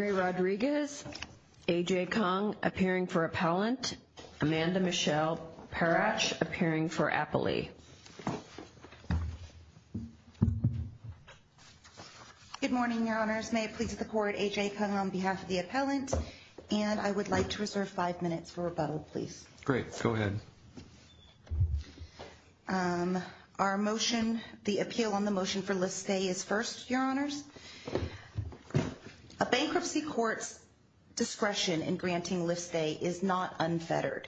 AJ KONG APPEARING FOR APPELLANT. AMANDA MICHELE PARACH APPEARING FOR APPELEE. Good morning, your honors. May it please the court, AJ Kong on behalf of the appellant, and I would like to reserve five minutes for rebuttal, please. Great, go ahead. Our motion, the appeal on the motion for list stay is first, your honors. A bankruptcy court's discretion in granting list stay is not unfettered.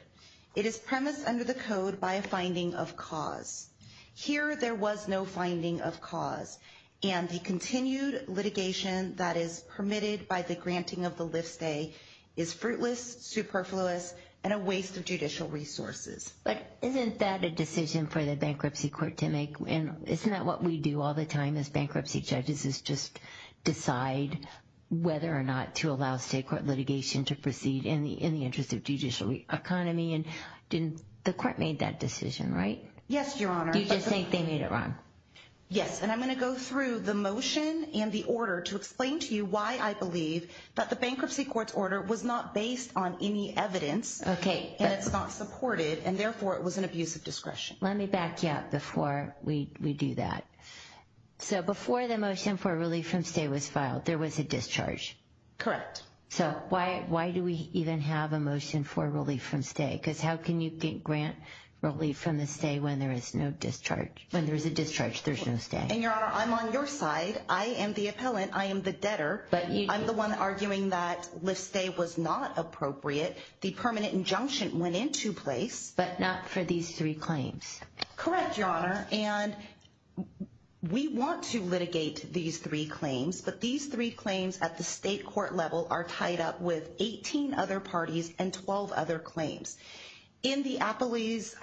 It is premised under the code by a finding of cause. Here there was no finding of cause, and the continued litigation that is permitted by the granting of the list stay is fruitless, superfluous, and a waste of judicial resources. But isn't that a decision for the bankruptcy court to make? Isn't that what we do all the time as bankruptcy judges is just decide whether or not to allow state court litigation to proceed in the interest of judicial economy, and the court made that decision, right? Yes, your honor. Do you just think they made it wrong? Yes, and I'm going to go through the motion and the order to explain to you why I believe that the bankruptcy court's order was not based on any evidence. Okay. And it's not supported, and therefore it was an abuse of discretion. Let me back you up before we do that. So before the motion for relief from stay was filed, there was a discharge. Correct. So why do we even have a motion for relief from stay? Because how can you grant relief from the stay when there is no discharge? When there's a discharge, there's no stay. And, your honor, I'm on your side. I am the appellant. I am the debtor. I'm the one arguing that list stay was not appropriate. The permanent injunction went into place. But not for these three claims. Correct, your honor. And we want to litigate these three claims, but these three claims at the state court level are tied up with 18 other parties and 12 other claims. In the appellee's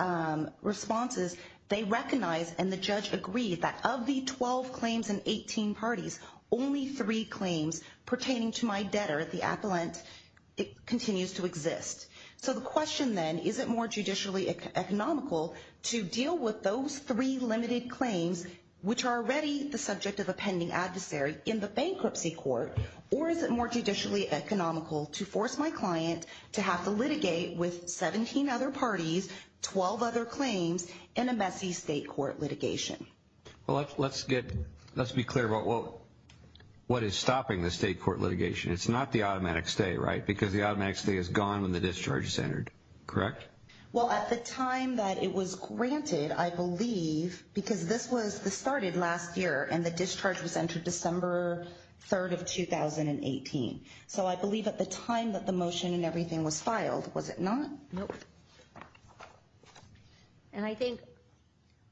responses, they recognize, and the judge agreed, that of the 12 claims and 18 parties, only three claims pertaining to my debtor, the appellant, continues to exist. So the question then, is it more judicially economical to deal with those three limited claims, which are already the subject of a pending adversary in the bankruptcy court, or is it more judicially economical to force my client to have to litigate with 17 other parties, 12 other claims, in a messy state court litigation? Well, let's be clear about what is stopping the state court litigation. It's not the automatic stay, right? Because the automatic stay is gone when the discharge is entered. Correct? Well, at the time that it was granted, I believe, because this was the started last year and the discharge was entered December 3rd of 2018. So I believe at the time that the motion and everything was filed, was it not? Nope. And I think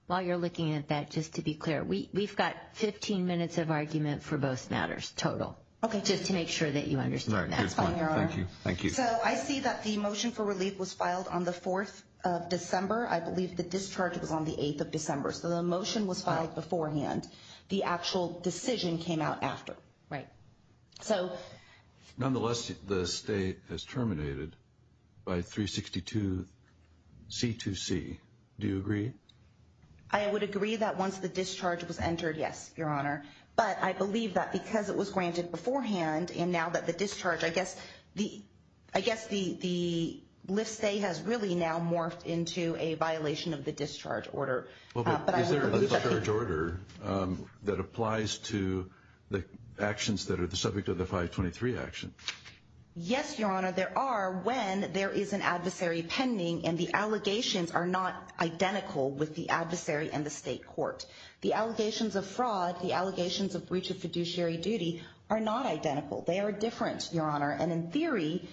while you're looking at that, just to be clear, we've got 15 minutes of argument for both matters total. Okay. Just to make sure that you understand that. That's fine, Your Honor. Thank you. So I see that the motion for relief was filed on the 4th of December. I believe the discharge was on the 8th of December. So the motion was filed beforehand. The actual decision came out after. Right. Nonetheless, the state has terminated by 362 C2C. Do you agree? I would agree that once the discharge was entered, yes, Your Honor. But I believe that because it was granted beforehand, and now that the discharge, I guess the lift stay has really now morphed into a violation of the discharge order. Is there a discharge order that applies to the actions that are the subject of the 523 action? Yes, Your Honor, there are when there is an adversary pending and the allegations are not identical with the adversary and the state court. The allegations of fraud, the allegations of breach of fiduciary duty are not identical. They are different, Your Honor. And in theory,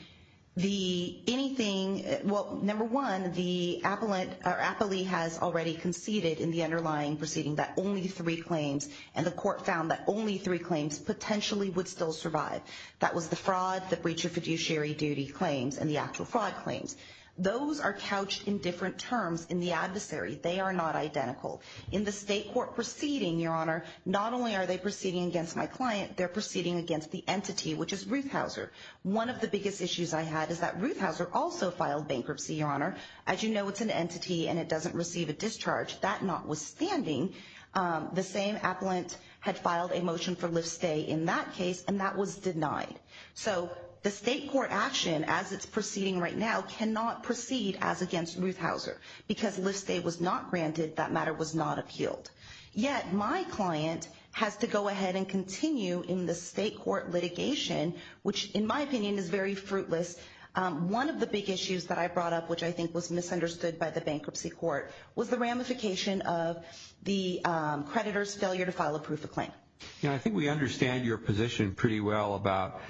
the anything, well, number one, the appellate or appellee has already conceded in the underlying proceeding that only three claims and the court found that only three claims potentially would still survive. That was the fraud, the breach of fiduciary duty claims, and the actual fraud claims. Those are couched in different terms in the adversary. They are not identical in the state court proceeding. Your Honor, not only are they proceeding against my client, they're proceeding against the entity, which is Ruth Hauser. One of the biggest issues I had is that Ruth Hauser also filed bankruptcy. Your Honor, as you know, it's an entity and it doesn't receive a discharge that notwithstanding, the same appellant had filed a motion for lift stay in that case, and that was denied. So the state court action, as it's proceeding right now, cannot proceed as against Ruth Hauser because lift stay was not granted. That matter was not appealed. Yet my client has to go ahead and continue in the state court litigation, which, in my opinion, is very fruitless. One of the big issues that I brought up, which I think was misunderstood by the bankruptcy court, was the ramification of the creditor's failure to file a proof of claim. Your Honor, I think we understand your position pretty well about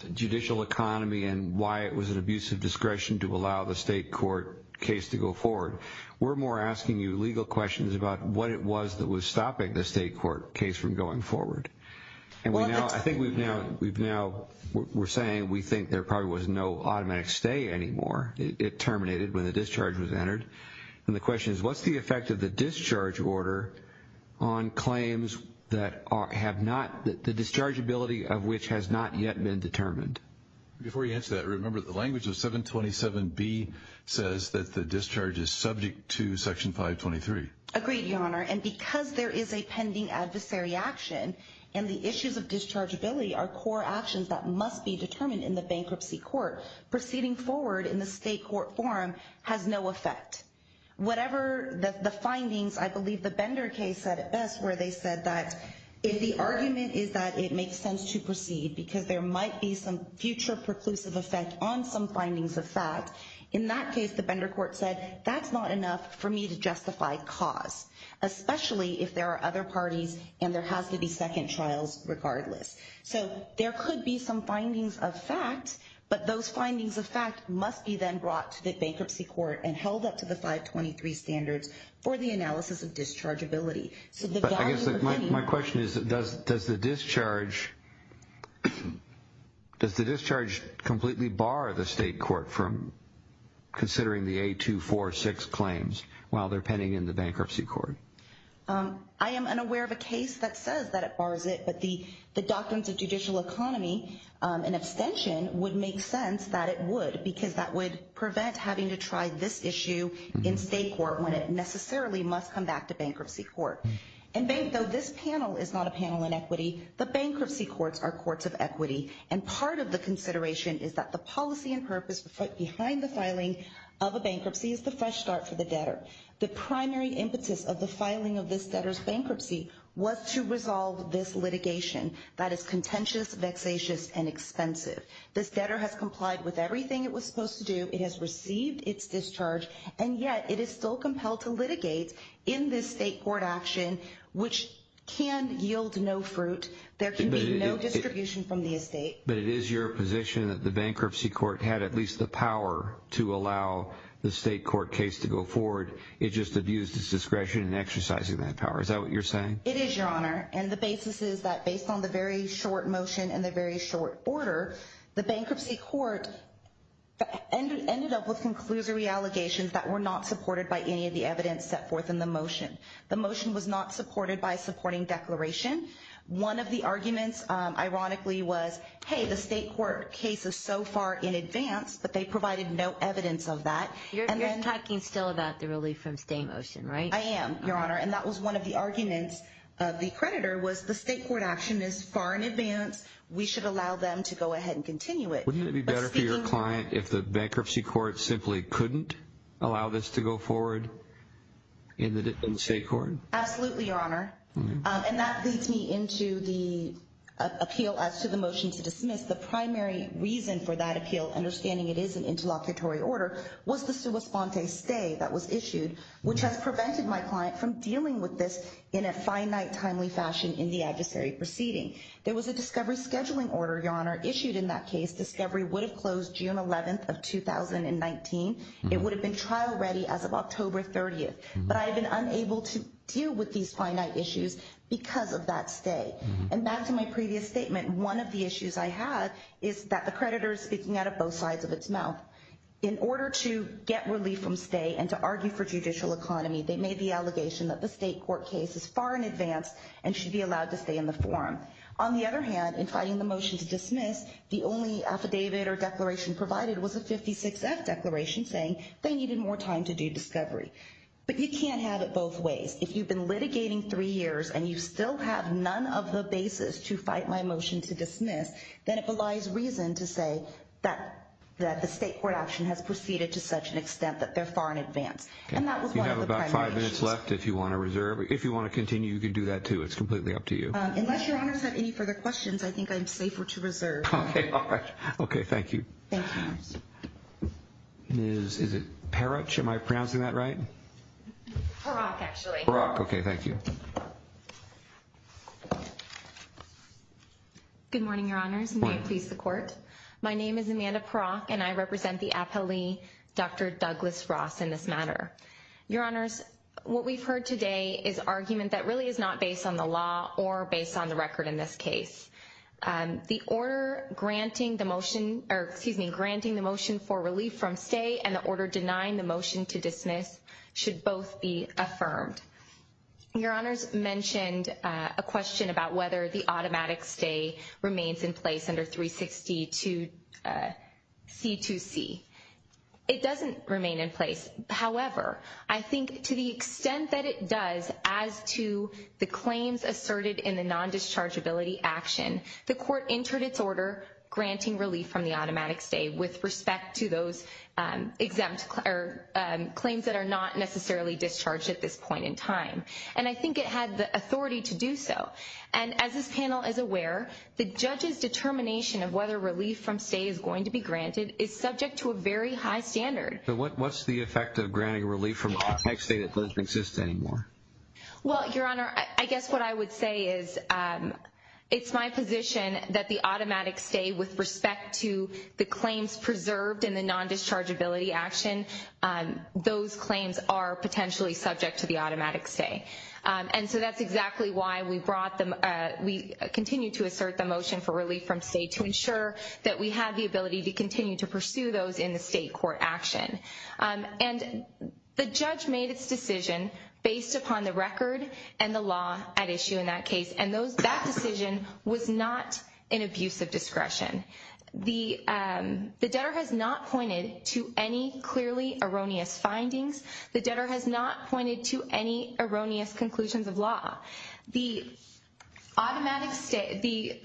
the judicial economy and why it was an abusive discretion to allow the state court case to go forward. We're more asking you legal questions about what it was that was stopping the state court case from going forward. And I think we've now, we're saying we think there probably was no automatic stay anymore. It terminated when the discharge was entered. And the question is, what's the effect of the discharge order on claims that have not, the dischargeability of which has not yet been determined? Before you answer that, remember the language of 727B says that the discharge is subject to section 523. Agreed, Your Honor. And because there is a pending adversary action and the issues of dischargeability are core actions that must be determined in the bankruptcy court, proceeding forward in the state court forum has no effect. Whatever the findings, I believe the Bender case said it best where they said that if the argument is that it makes sense to proceed because there might be some future preclusive effect on some findings of fact. In that case, the Bender court said that's not enough for me to justify cause, especially if there are other parties and there has to be second trials regardless. So there could be some findings of fact, but those findings of fact must be then brought to the bankruptcy court and held up to the 523 standards for the analysis of dischargeability. My question is, does the discharge completely bar the state court from considering the 8246 claims while they're pending in the bankruptcy court? I am unaware of a case that says that it bars it, but the doctrines of judicial economy and abstention would make sense that it would, because that would prevent having to try this issue in state court when it necessarily must come back to bankruptcy court. And though this panel is not a panel in equity, the bankruptcy courts are courts of equity. And part of the consideration is that the policy and purpose behind the filing of a bankruptcy is the fresh start for the debtor. The primary impetus of the filing of this debtor's bankruptcy was to resolve this litigation that is contentious, vexatious, and expensive. This debtor has complied with everything it was supposed to do. It has received its discharge, and yet it is still compelled to litigate in this state court action, which can yield no fruit. There can be no distribution from the estate, but it is your position that the bankruptcy court had at least the power to allow the state court case to go forward. It just abused its discretion in exercising that power. Is that what you're saying? It is your honor. And the basis is that based on the very short motion and the very short order, the bankruptcy court ended up with conclusory allegations that were not supported by any of the evidence set forth in the motion. The motion was not supported by supporting declaration. One of the arguments ironically was, hey, the state court case is so far in advance, but they provided no evidence of that. You're talking still about the relief from state motion, right? I am your honor. And that was one of the arguments of the creditor was the state court action is far in advance. We should allow them to go ahead and continue it. Wouldn't it be better for your client? If the bankruptcy court simply couldn't allow this to go forward in the state court? Absolutely. Your honor. And that leads me into the appeal as to the motion to dismiss the primary reason for that appeal. Understanding it is an interlocutory order. Was this to respond to a stay that was issued, which has prevented my client from dealing with this in a finite, timely fashion in the adversary proceeding. There was a discovery scheduling order. Your honor issued in that case, discovery would have closed June 11th of 2019. It would have been trial ready as of October 30th, but I have been unable to deal with these finite issues because of that stay. And back to my previous statement. One of the issues I had is that the creditor is speaking out of both sides of its mouth in order to get relief from stay and to argue for judicial economy. They made the allegation that the state court case is far in advance and should be allowed to stay in the forum. On the other hand, in fighting the motion to dismiss, the only affidavit or declaration provided was a 56 F declaration saying they needed more time to do discovery. But you can't have it both ways. If you've been litigating three years and you still have none of the basis to fight my motion to dismiss, then it belies reason to say that the state court option has proceeded to such an extent that they're far in advance. And that was one of the primary issues. You have about five minutes left if you want to reserve. If you want to continue, you can do that too. It's completely up to you. Unless your honors have any further questions. I think I'm safer to reserve. Okay. All right. Okay. Thank you. Thank you. News. Is it Parach? Am I pronouncing that right? Parach, actually. Parach. Okay. Thank you. Good morning, your honors. May it please the court. My name is Amanda Parach and I represent the appellee, Dr. Douglas Ross in this matter. Your honors, what we've heard today is argument that really is not based on the law or based on the record in this case. The order granting the motion or excuse me, granting the motion for relief from stay and the order denying the motion to dismiss should both be affirmed. Your honors mentioned a question about whether the automatic stay remains in place under 360 to C2C. It doesn't remain in place. However, I think to the extent that it does, as to the claims asserted in the non-dischargeability action, the court entered its order granting relief from the automatic stay with respect to those exempt or claims that are not necessarily discharged at this point in time. And I think it had the authority to do so. And as this panel is aware, the judge's determination of whether relief from stay is going to be granted is subject to a very high standard. So what's the effect of granting relief from stay that doesn't exist anymore? Well, your honor, I guess what I would say is, it's my position that the automatic stay with respect to the claims preserved in the non-dischargeability action, those claims are potentially subject to the automatic stay. And so that's exactly why we brought them, we continue to assert the motion for relief from stay to ensure that we have the ability to continue to pursue those in the state court action. And the judge made its decision based upon the record and the law at issue in that case. And that decision was not an abuse of discretion. The debtor has not pointed to any clearly erroneous findings. The debtor has not pointed to any erroneous conclusions of law. The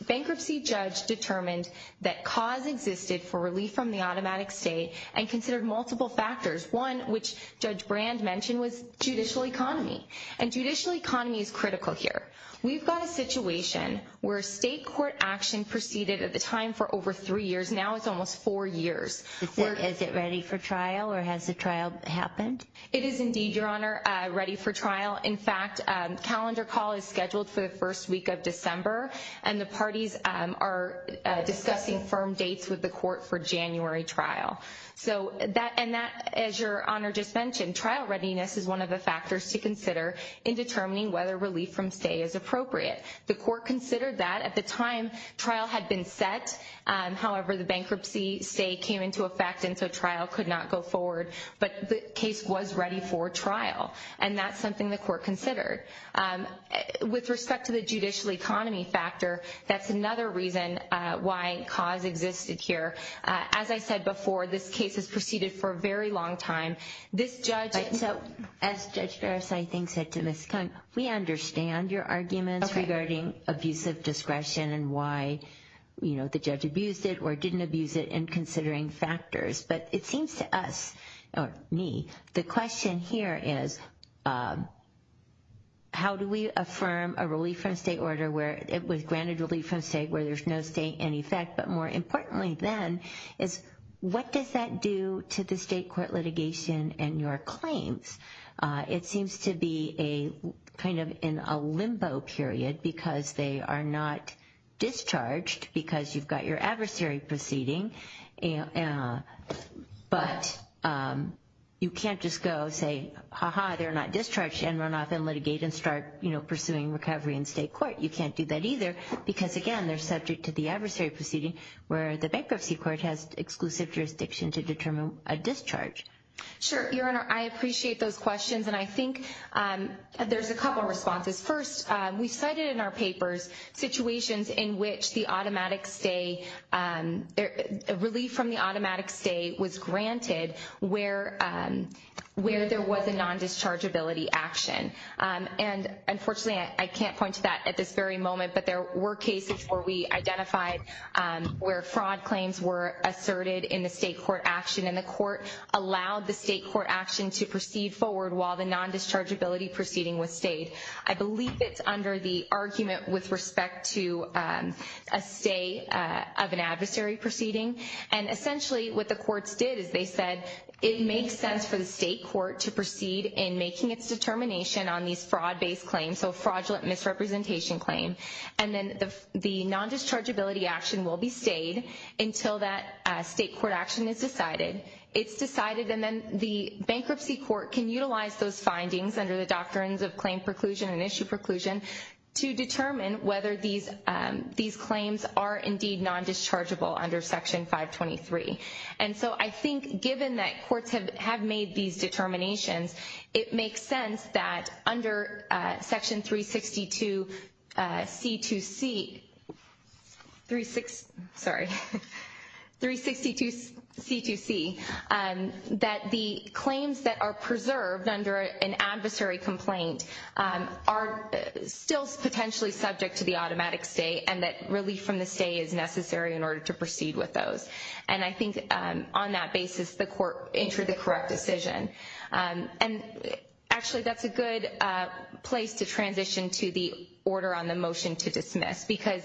bankruptcy judge determined that cause existed for relief from the automatic stay and considered multiple factors. One, which Judge Brand mentioned, was judicial economy. And judicial economy is critical here. We've got a situation where state court action proceeded at the time for over three years, now it's almost four years. Is it ready for trial or has the trial happened? It is indeed, your honor, ready for trial. In fact, calendar call is scheduled for the first week of December. And the parties are discussing firm dates with the court for January trial. And that, as your honor just mentioned, trial readiness is one of the factors to consider in determining whether relief from stay is appropriate. The court considered that at the time trial had been set. However, the bankruptcy stay came into effect and so trial could not go forward. But the case was ready for trial. And that's something the court considered. With respect to the judicial economy factor, that's another reason why cause existed here. As I said before, this case has proceeded for a very long time. This judge. As Judge Garris, I think, said to Ms. Kahn, we understand your arguments regarding abuse of discretion and why, you know, the judge abused it or didn't abuse it in considering factors. But it seems to us, or me, the question here is, how do we affirm a relief from stay order where it was granted relief from stay where there's no stay in effect. But more importantly then is what does that do to the state court litigation and your claims? It seems to be a kind of in a limbo period because they are not discharged because you've got your adversary proceeding. But you can't just go say, ha ha, they're not discharged and run off and litigate and start pursuing recovery in state court. You can't do that either because, again, they're subject to the adversary proceeding where the bankruptcy court has exclusive jurisdiction to determine a discharge. Sure. Your Honor, I appreciate those questions. And I think there's a couple responses. First, we cited in our papers situations in which the automatic stay, relief from the automatic stay was granted where there was a non-dischargeability action. And, unfortunately, I can't point to that at this very moment, but there were cases where we identified where fraud claims were asserted in the state court action and the court allowed the state court action to proceed forward while the non-dischargeability proceeding was stayed. I believe it's under the argument with respect to a stay of an adversary proceeding. And, essentially, what the courts did is they said it makes sense for the state court to proceed in making its determination on these fraud-based claims, so a fraudulent misrepresentation claim. And then the non-dischargeability action will be stayed until that state court action is decided. It's decided and then the bankruptcy court can utilize those findings under the doctrines of claim preclusion and issue preclusion to determine whether these claims are, indeed, non-dischargeable under Section 523. And so I think given that courts have made these determinations, it makes sense that under Section 362C2C that the claims that are subject to the automatic stay and that relief from the stay is necessary in order to proceed with those. And I think on that basis the court entered the correct decision. And, actually, that's a good place to transition to the order on the motion to dismiss because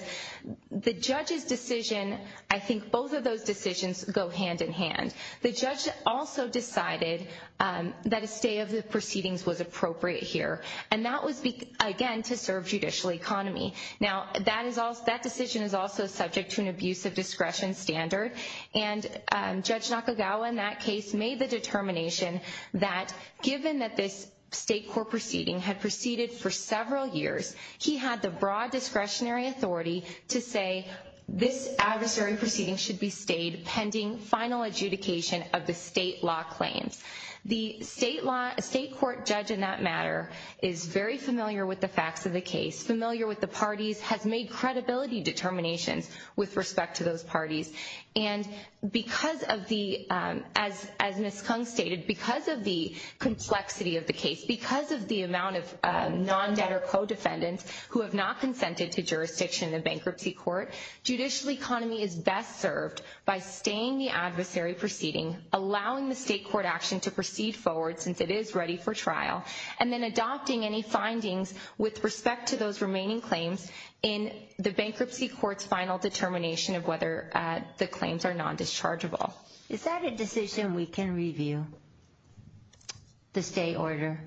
the judge's decision, I think both of those decisions go hand-in-hand. The judge also decided that a stay of the proceedings was appropriate here, and that was, again, to serve judicial economy. Now, that decision is also subject to an abuse of discretion standard, and Judge Nakagawa in that case made the determination that given that this state court proceeding had proceeded for several years, he had the broad discretionary authority to say this adversary proceeding should be stayed pending final adjudication of the state law claims. The state court judge in that matter is very familiar with the facts of the case, familiar with the parties, has made credibility determinations with respect to those parties. And because of the, as Ms. Kung stated, because of the complexity of the case, because of the amount of non-debtor co-defendants who have not consented to be served by staying the adversary proceeding, allowing the state court action to proceed forward since it is ready for trial, and then adopting any findings with respect to those remaining claims in the bankruptcy court's final determination of whether the claims are non-dischargeable. Is that a decision we can review, the stay order?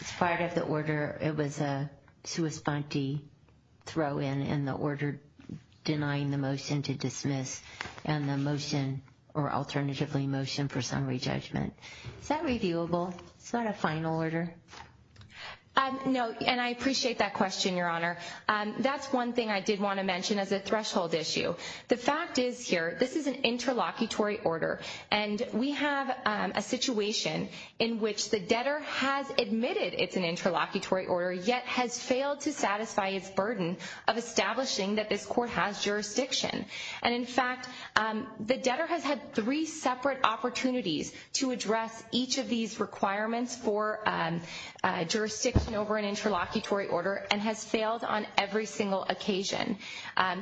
As part of the order, it was a sui sponte throw in, in the order denying the motion to dismiss, and the motion or alternatively motion for summary judgment. Is that reviewable? It's not a final order. No, and I appreciate that question, Your Honor. That's one thing I did want to mention as a threshold issue. The fact is here, this is an interlocutory order, and we have a situation in which the debtor has admitted it's an establishing that this court has jurisdiction. And, in fact, the debtor has had three separate opportunities to address each of these requirements for jurisdiction over an interlocutory order, and has failed on every single occasion.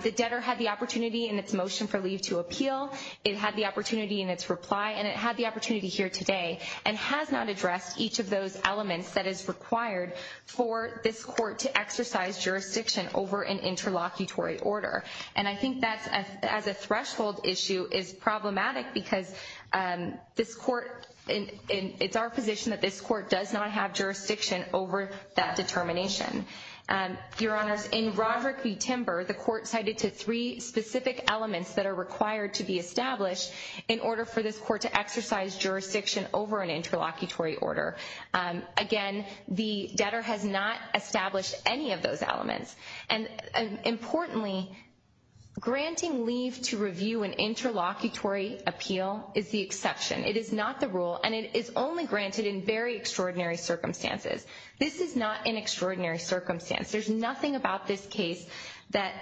The debtor had the opportunity in its motion for leave to appeal. It had the opportunity in its reply, and it had the opportunity here today, and has not addressed each of those elements that is required for this court to exercise jurisdiction over an interlocutory order. And I think that as a threshold issue is problematic because this court, it's our position that this court does not have jurisdiction over that determination. Your Honors, in Roderick v. Timber, the court cited to three specific elements that are required to be established in order for this court to exercise jurisdiction over an interlocutory order. Again, the debtor has not established any of those elements. And, importantly, granting leave to review an interlocutory appeal is the exception. It is not the rule, and it is only granted in very extraordinary circumstances. This is not an extraordinary circumstance. There's nothing about this case that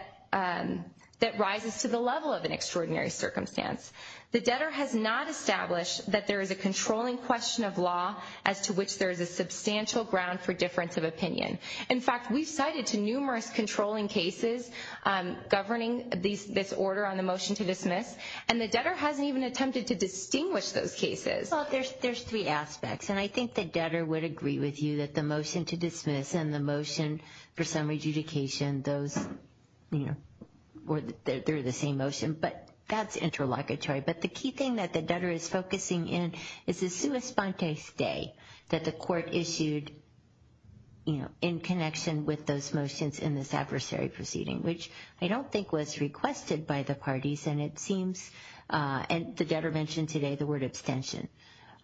rises to the level of an extraordinary circumstance. The debtor has not established that there is a controlling question of law as to which there is a substantial ground for difference of opinion. In fact, we've cited to numerous controlling cases governing this order on the motion to dismiss, and the debtor hasn't even attempted to distinguish those cases. Well, there's three aspects, and I think the debtor would agree with you that the motion to dismiss and the motion for summary adjudication, those, you know, they're the same motion, but that's interlocutory. But the key thing that the debtor is focusing in is the sua sponte stay that the court issued, you know, in connection with those motions in this adversary proceeding, which I don't think was requested by the parties, and it seems, and the debtor mentioned today the word abstention.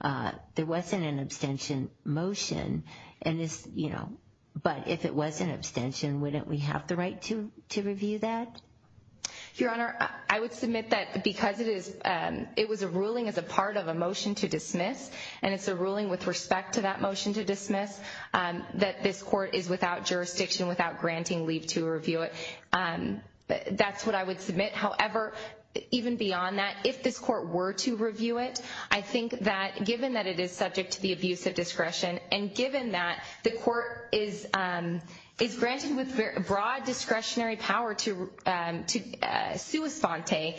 There wasn't an abstention motion, and this, you know, but if it was an abstention, wouldn't we have the right to review that? Your Honor, I would submit that because it was a ruling as a part of a motion to dismiss, and it's a ruling with respect to that motion to dismiss, that this court is without jurisdiction, without granting leave to review it. That's what I would submit. However, even beyond that, if this court were to review it, and given that, the court is granted with broad discretionary power to sua sponte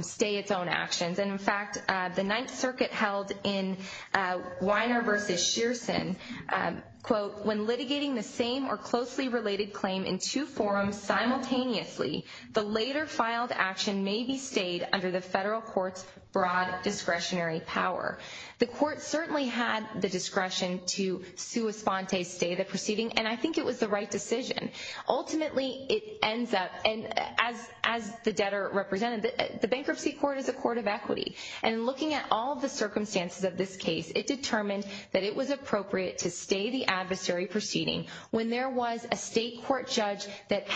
stay its own actions. And, in fact, the Ninth Circuit held in Weiner v. Shearson, quote, when litigating the same or closely related claim in two forums simultaneously, the later filed action may be stayed under the federal court's broad discretionary power. The court certainly had the discretion to sua sponte stay the proceeding, and I think it was the right decision. Ultimately, it ends up, and as the debtor represented, the bankruptcy court is a court of equity. And looking at all the circumstances of this case, it determined that it was appropriate to stay the adversary proceeding when there was a state court judge that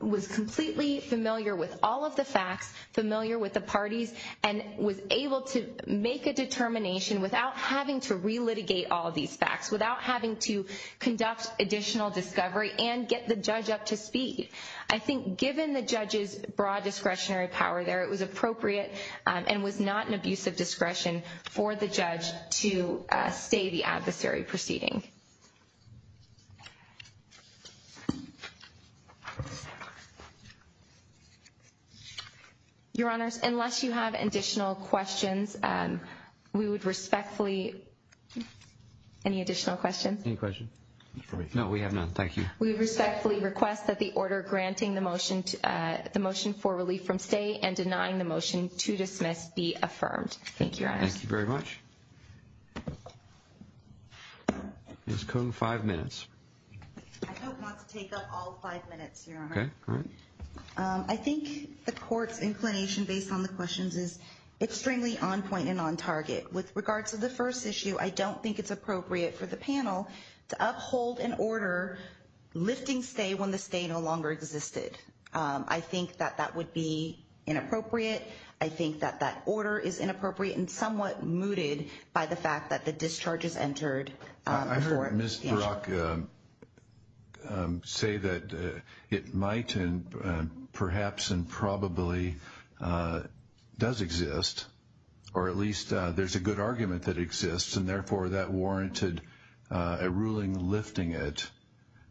was completely familiar with all of the facts, familiar with the parties, and was able to make a determination without having to relitigate all of these facts, without having to conduct additional discovery and get the judge up to speed. I think given the judge's broad discretionary power there, it was appropriate and was not an abusive discretion for the judge to stay the adversary proceeding. Your Honors, unless you have additional questions, we would respectfully... Any additional questions? Any questions? No, we have none. Thank you. We respectfully request that the order granting the motion for relief from stay and denying the motion to dismiss be affirmed. Thank you, Your Honors. Thank you very much. Ms. Cohn, five minutes. I don't want to take up all five minutes, Your Honor. Okay, all right. I think the court's inclination based on the questions is extremely on point and on target. With regards to the first issue, I don't think it's appropriate for the panel to uphold an order lifting stay when the stay no longer existed. I think that that would be inappropriate. I think that that order is inappropriate and somewhat mooted by the fact that the discharge is entered before... Did Ms. Barak say that it might and perhaps and probably does exist, or at least there's a good argument that it exists, and therefore that warranted a ruling lifting it?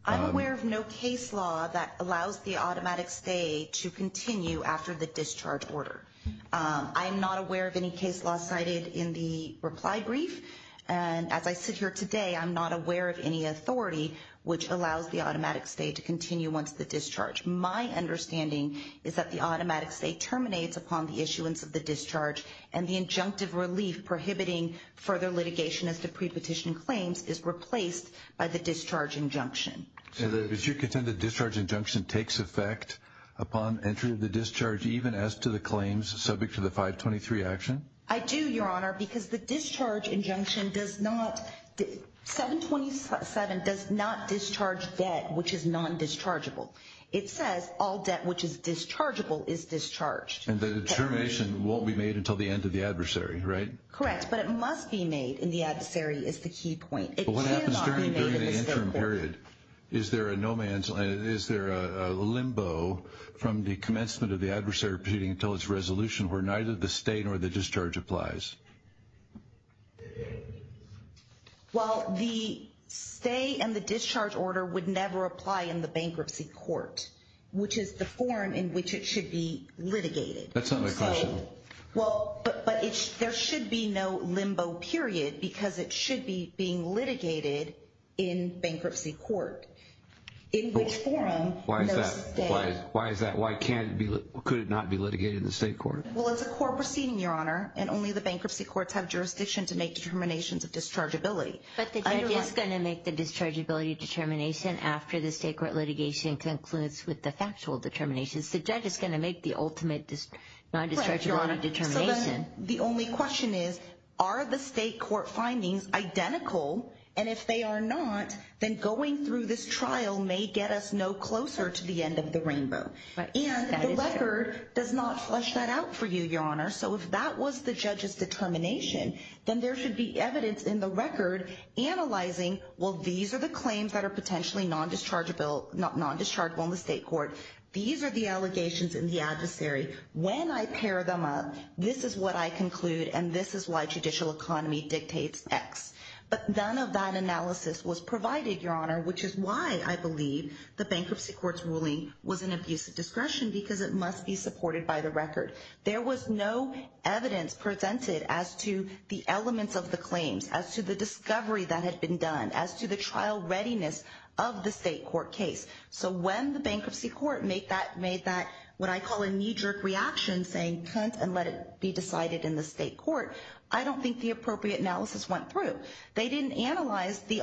I'm aware of no case law that allows the automatic stay to continue after the discharge order. I'm not aware of any case law cited in the reply brief. And as I sit here today, I'm not aware of any authority which allows the automatic stay to continue once the discharge. My understanding is that the automatic stay terminates upon the issuance of the discharge, and the injunctive relief prohibiting further litigation as to pre-petition claims is replaced by the discharge injunction. So does your contend the discharge injunction takes effect upon entry of the discharge, even as to the claims subject to the 523 action? I do, Your Honor, because the discharge injunction does not... 727 does not discharge debt which is non-dischargeable. It says all debt which is dischargeable is discharged. And the termination won't be made until the end of the adversary, right? Correct, but it must be made in the adversary is the key point. But what happens during the interim period? Is there a limbo from the commencement of the adversary proceeding until its resolution where neither the stay nor the discharge applies? Well, the stay and the discharge order would never apply in the bankruptcy court, which is the form in which it should be litigated. That's not my question. Well, but there should be no limbo period because it should be being litigated in bankruptcy court, in which form... Why is that? Why can't it be? Could it not be litigated in the state court? Well, it's a court proceeding, Your Honor, and only the bankruptcy courts have jurisdiction to make determinations of dischargeability. But the judge is going to make the dischargeability determination after the state court litigation concludes with the factual determinations. The judge is going to make the ultimate non-dischargeability determination. The only question is, are the state court findings identical? And if they are not, then going through this trial may get us no closer to the end of the rainbow. And the record does not flesh that out for you, Your Honor. So if that was the judge's determination, then there should be evidence in the record analyzing, well, these are the claims that are potentially non-dischargeable in the state court. These are the allegations in the adversary. When I pair them up, this is what I conclude, and this is why judicial economy dictates X. But none of that analysis was provided, Your Honor, which is why I believe the bankruptcy court's ruling was an abuse of discretion because it must be supported by the record. There was no evidence presented as to the elements of the claims, as to the discovery that had been done, as to the trial readiness of the state court case. So when the bankruptcy court made that what I call a knee-jerk reaction, saying cunt and let it be decided in the state court, I don't think the appropriate analysis went through. They didn't analyze the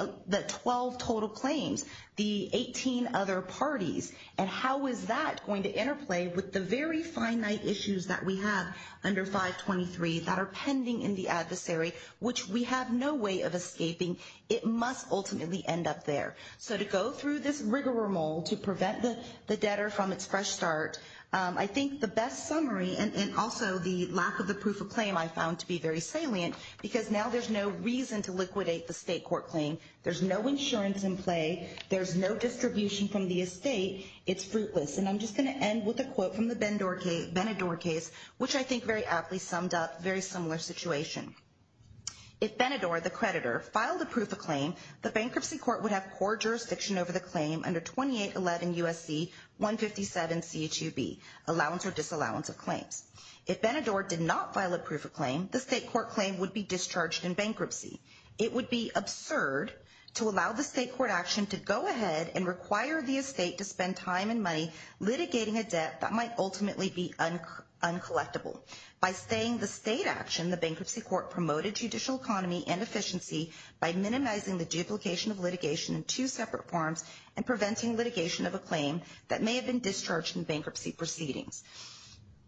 12 total claims, the 18 other parties, and how is that going to interplay with the very finite issues that we have under 523 that are pending in the adversary, which we have no way of escaping. It must ultimately end up there. So to go through this rigmarole to prevent the debtor from its fresh start, I think the best summary, and also the lack of the proof of claim I found to be very salient, because now there's no reason to liquidate the state court claim. There's no insurance in play. There's no distribution from the estate. It's fruitless. And I'm just going to end with a quote from the Benador case, which I think very aptly summed up a very similar situation. If Benador, the creditor, filed a proof of claim, the bankruptcy court would have court jurisdiction over the claim under 2811 USC 157 CHUB, allowance or disallowance of claims. If Benador did not file a proof of claim, the state court claim would be discharged in bankruptcy. It would be absurd to allow the state court action to go ahead and require the estate to spend time and money litigating a debt that might ultimately be uncollectible. By staying the state action, the bankruptcy court promoted judicial economy and efficiency by minimizing the duplication of litigation in two separate forms and preventing litigation of a claim that may have been discharged in bankruptcy proceedings.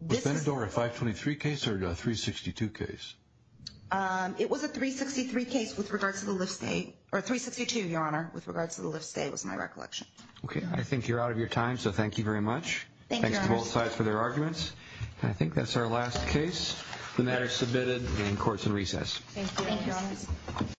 Was Benador a 523 case or a 362 case? It was a 363 case with regards to the Lyft estate, or 362, Your Honor, with regards to the Lyft estate was my recollection. Okay, I think you're out of your time, so thank you very much. Thanks to both sides for their arguments. I think that's our last case. The matter is submitted and court is in recess. Thank you.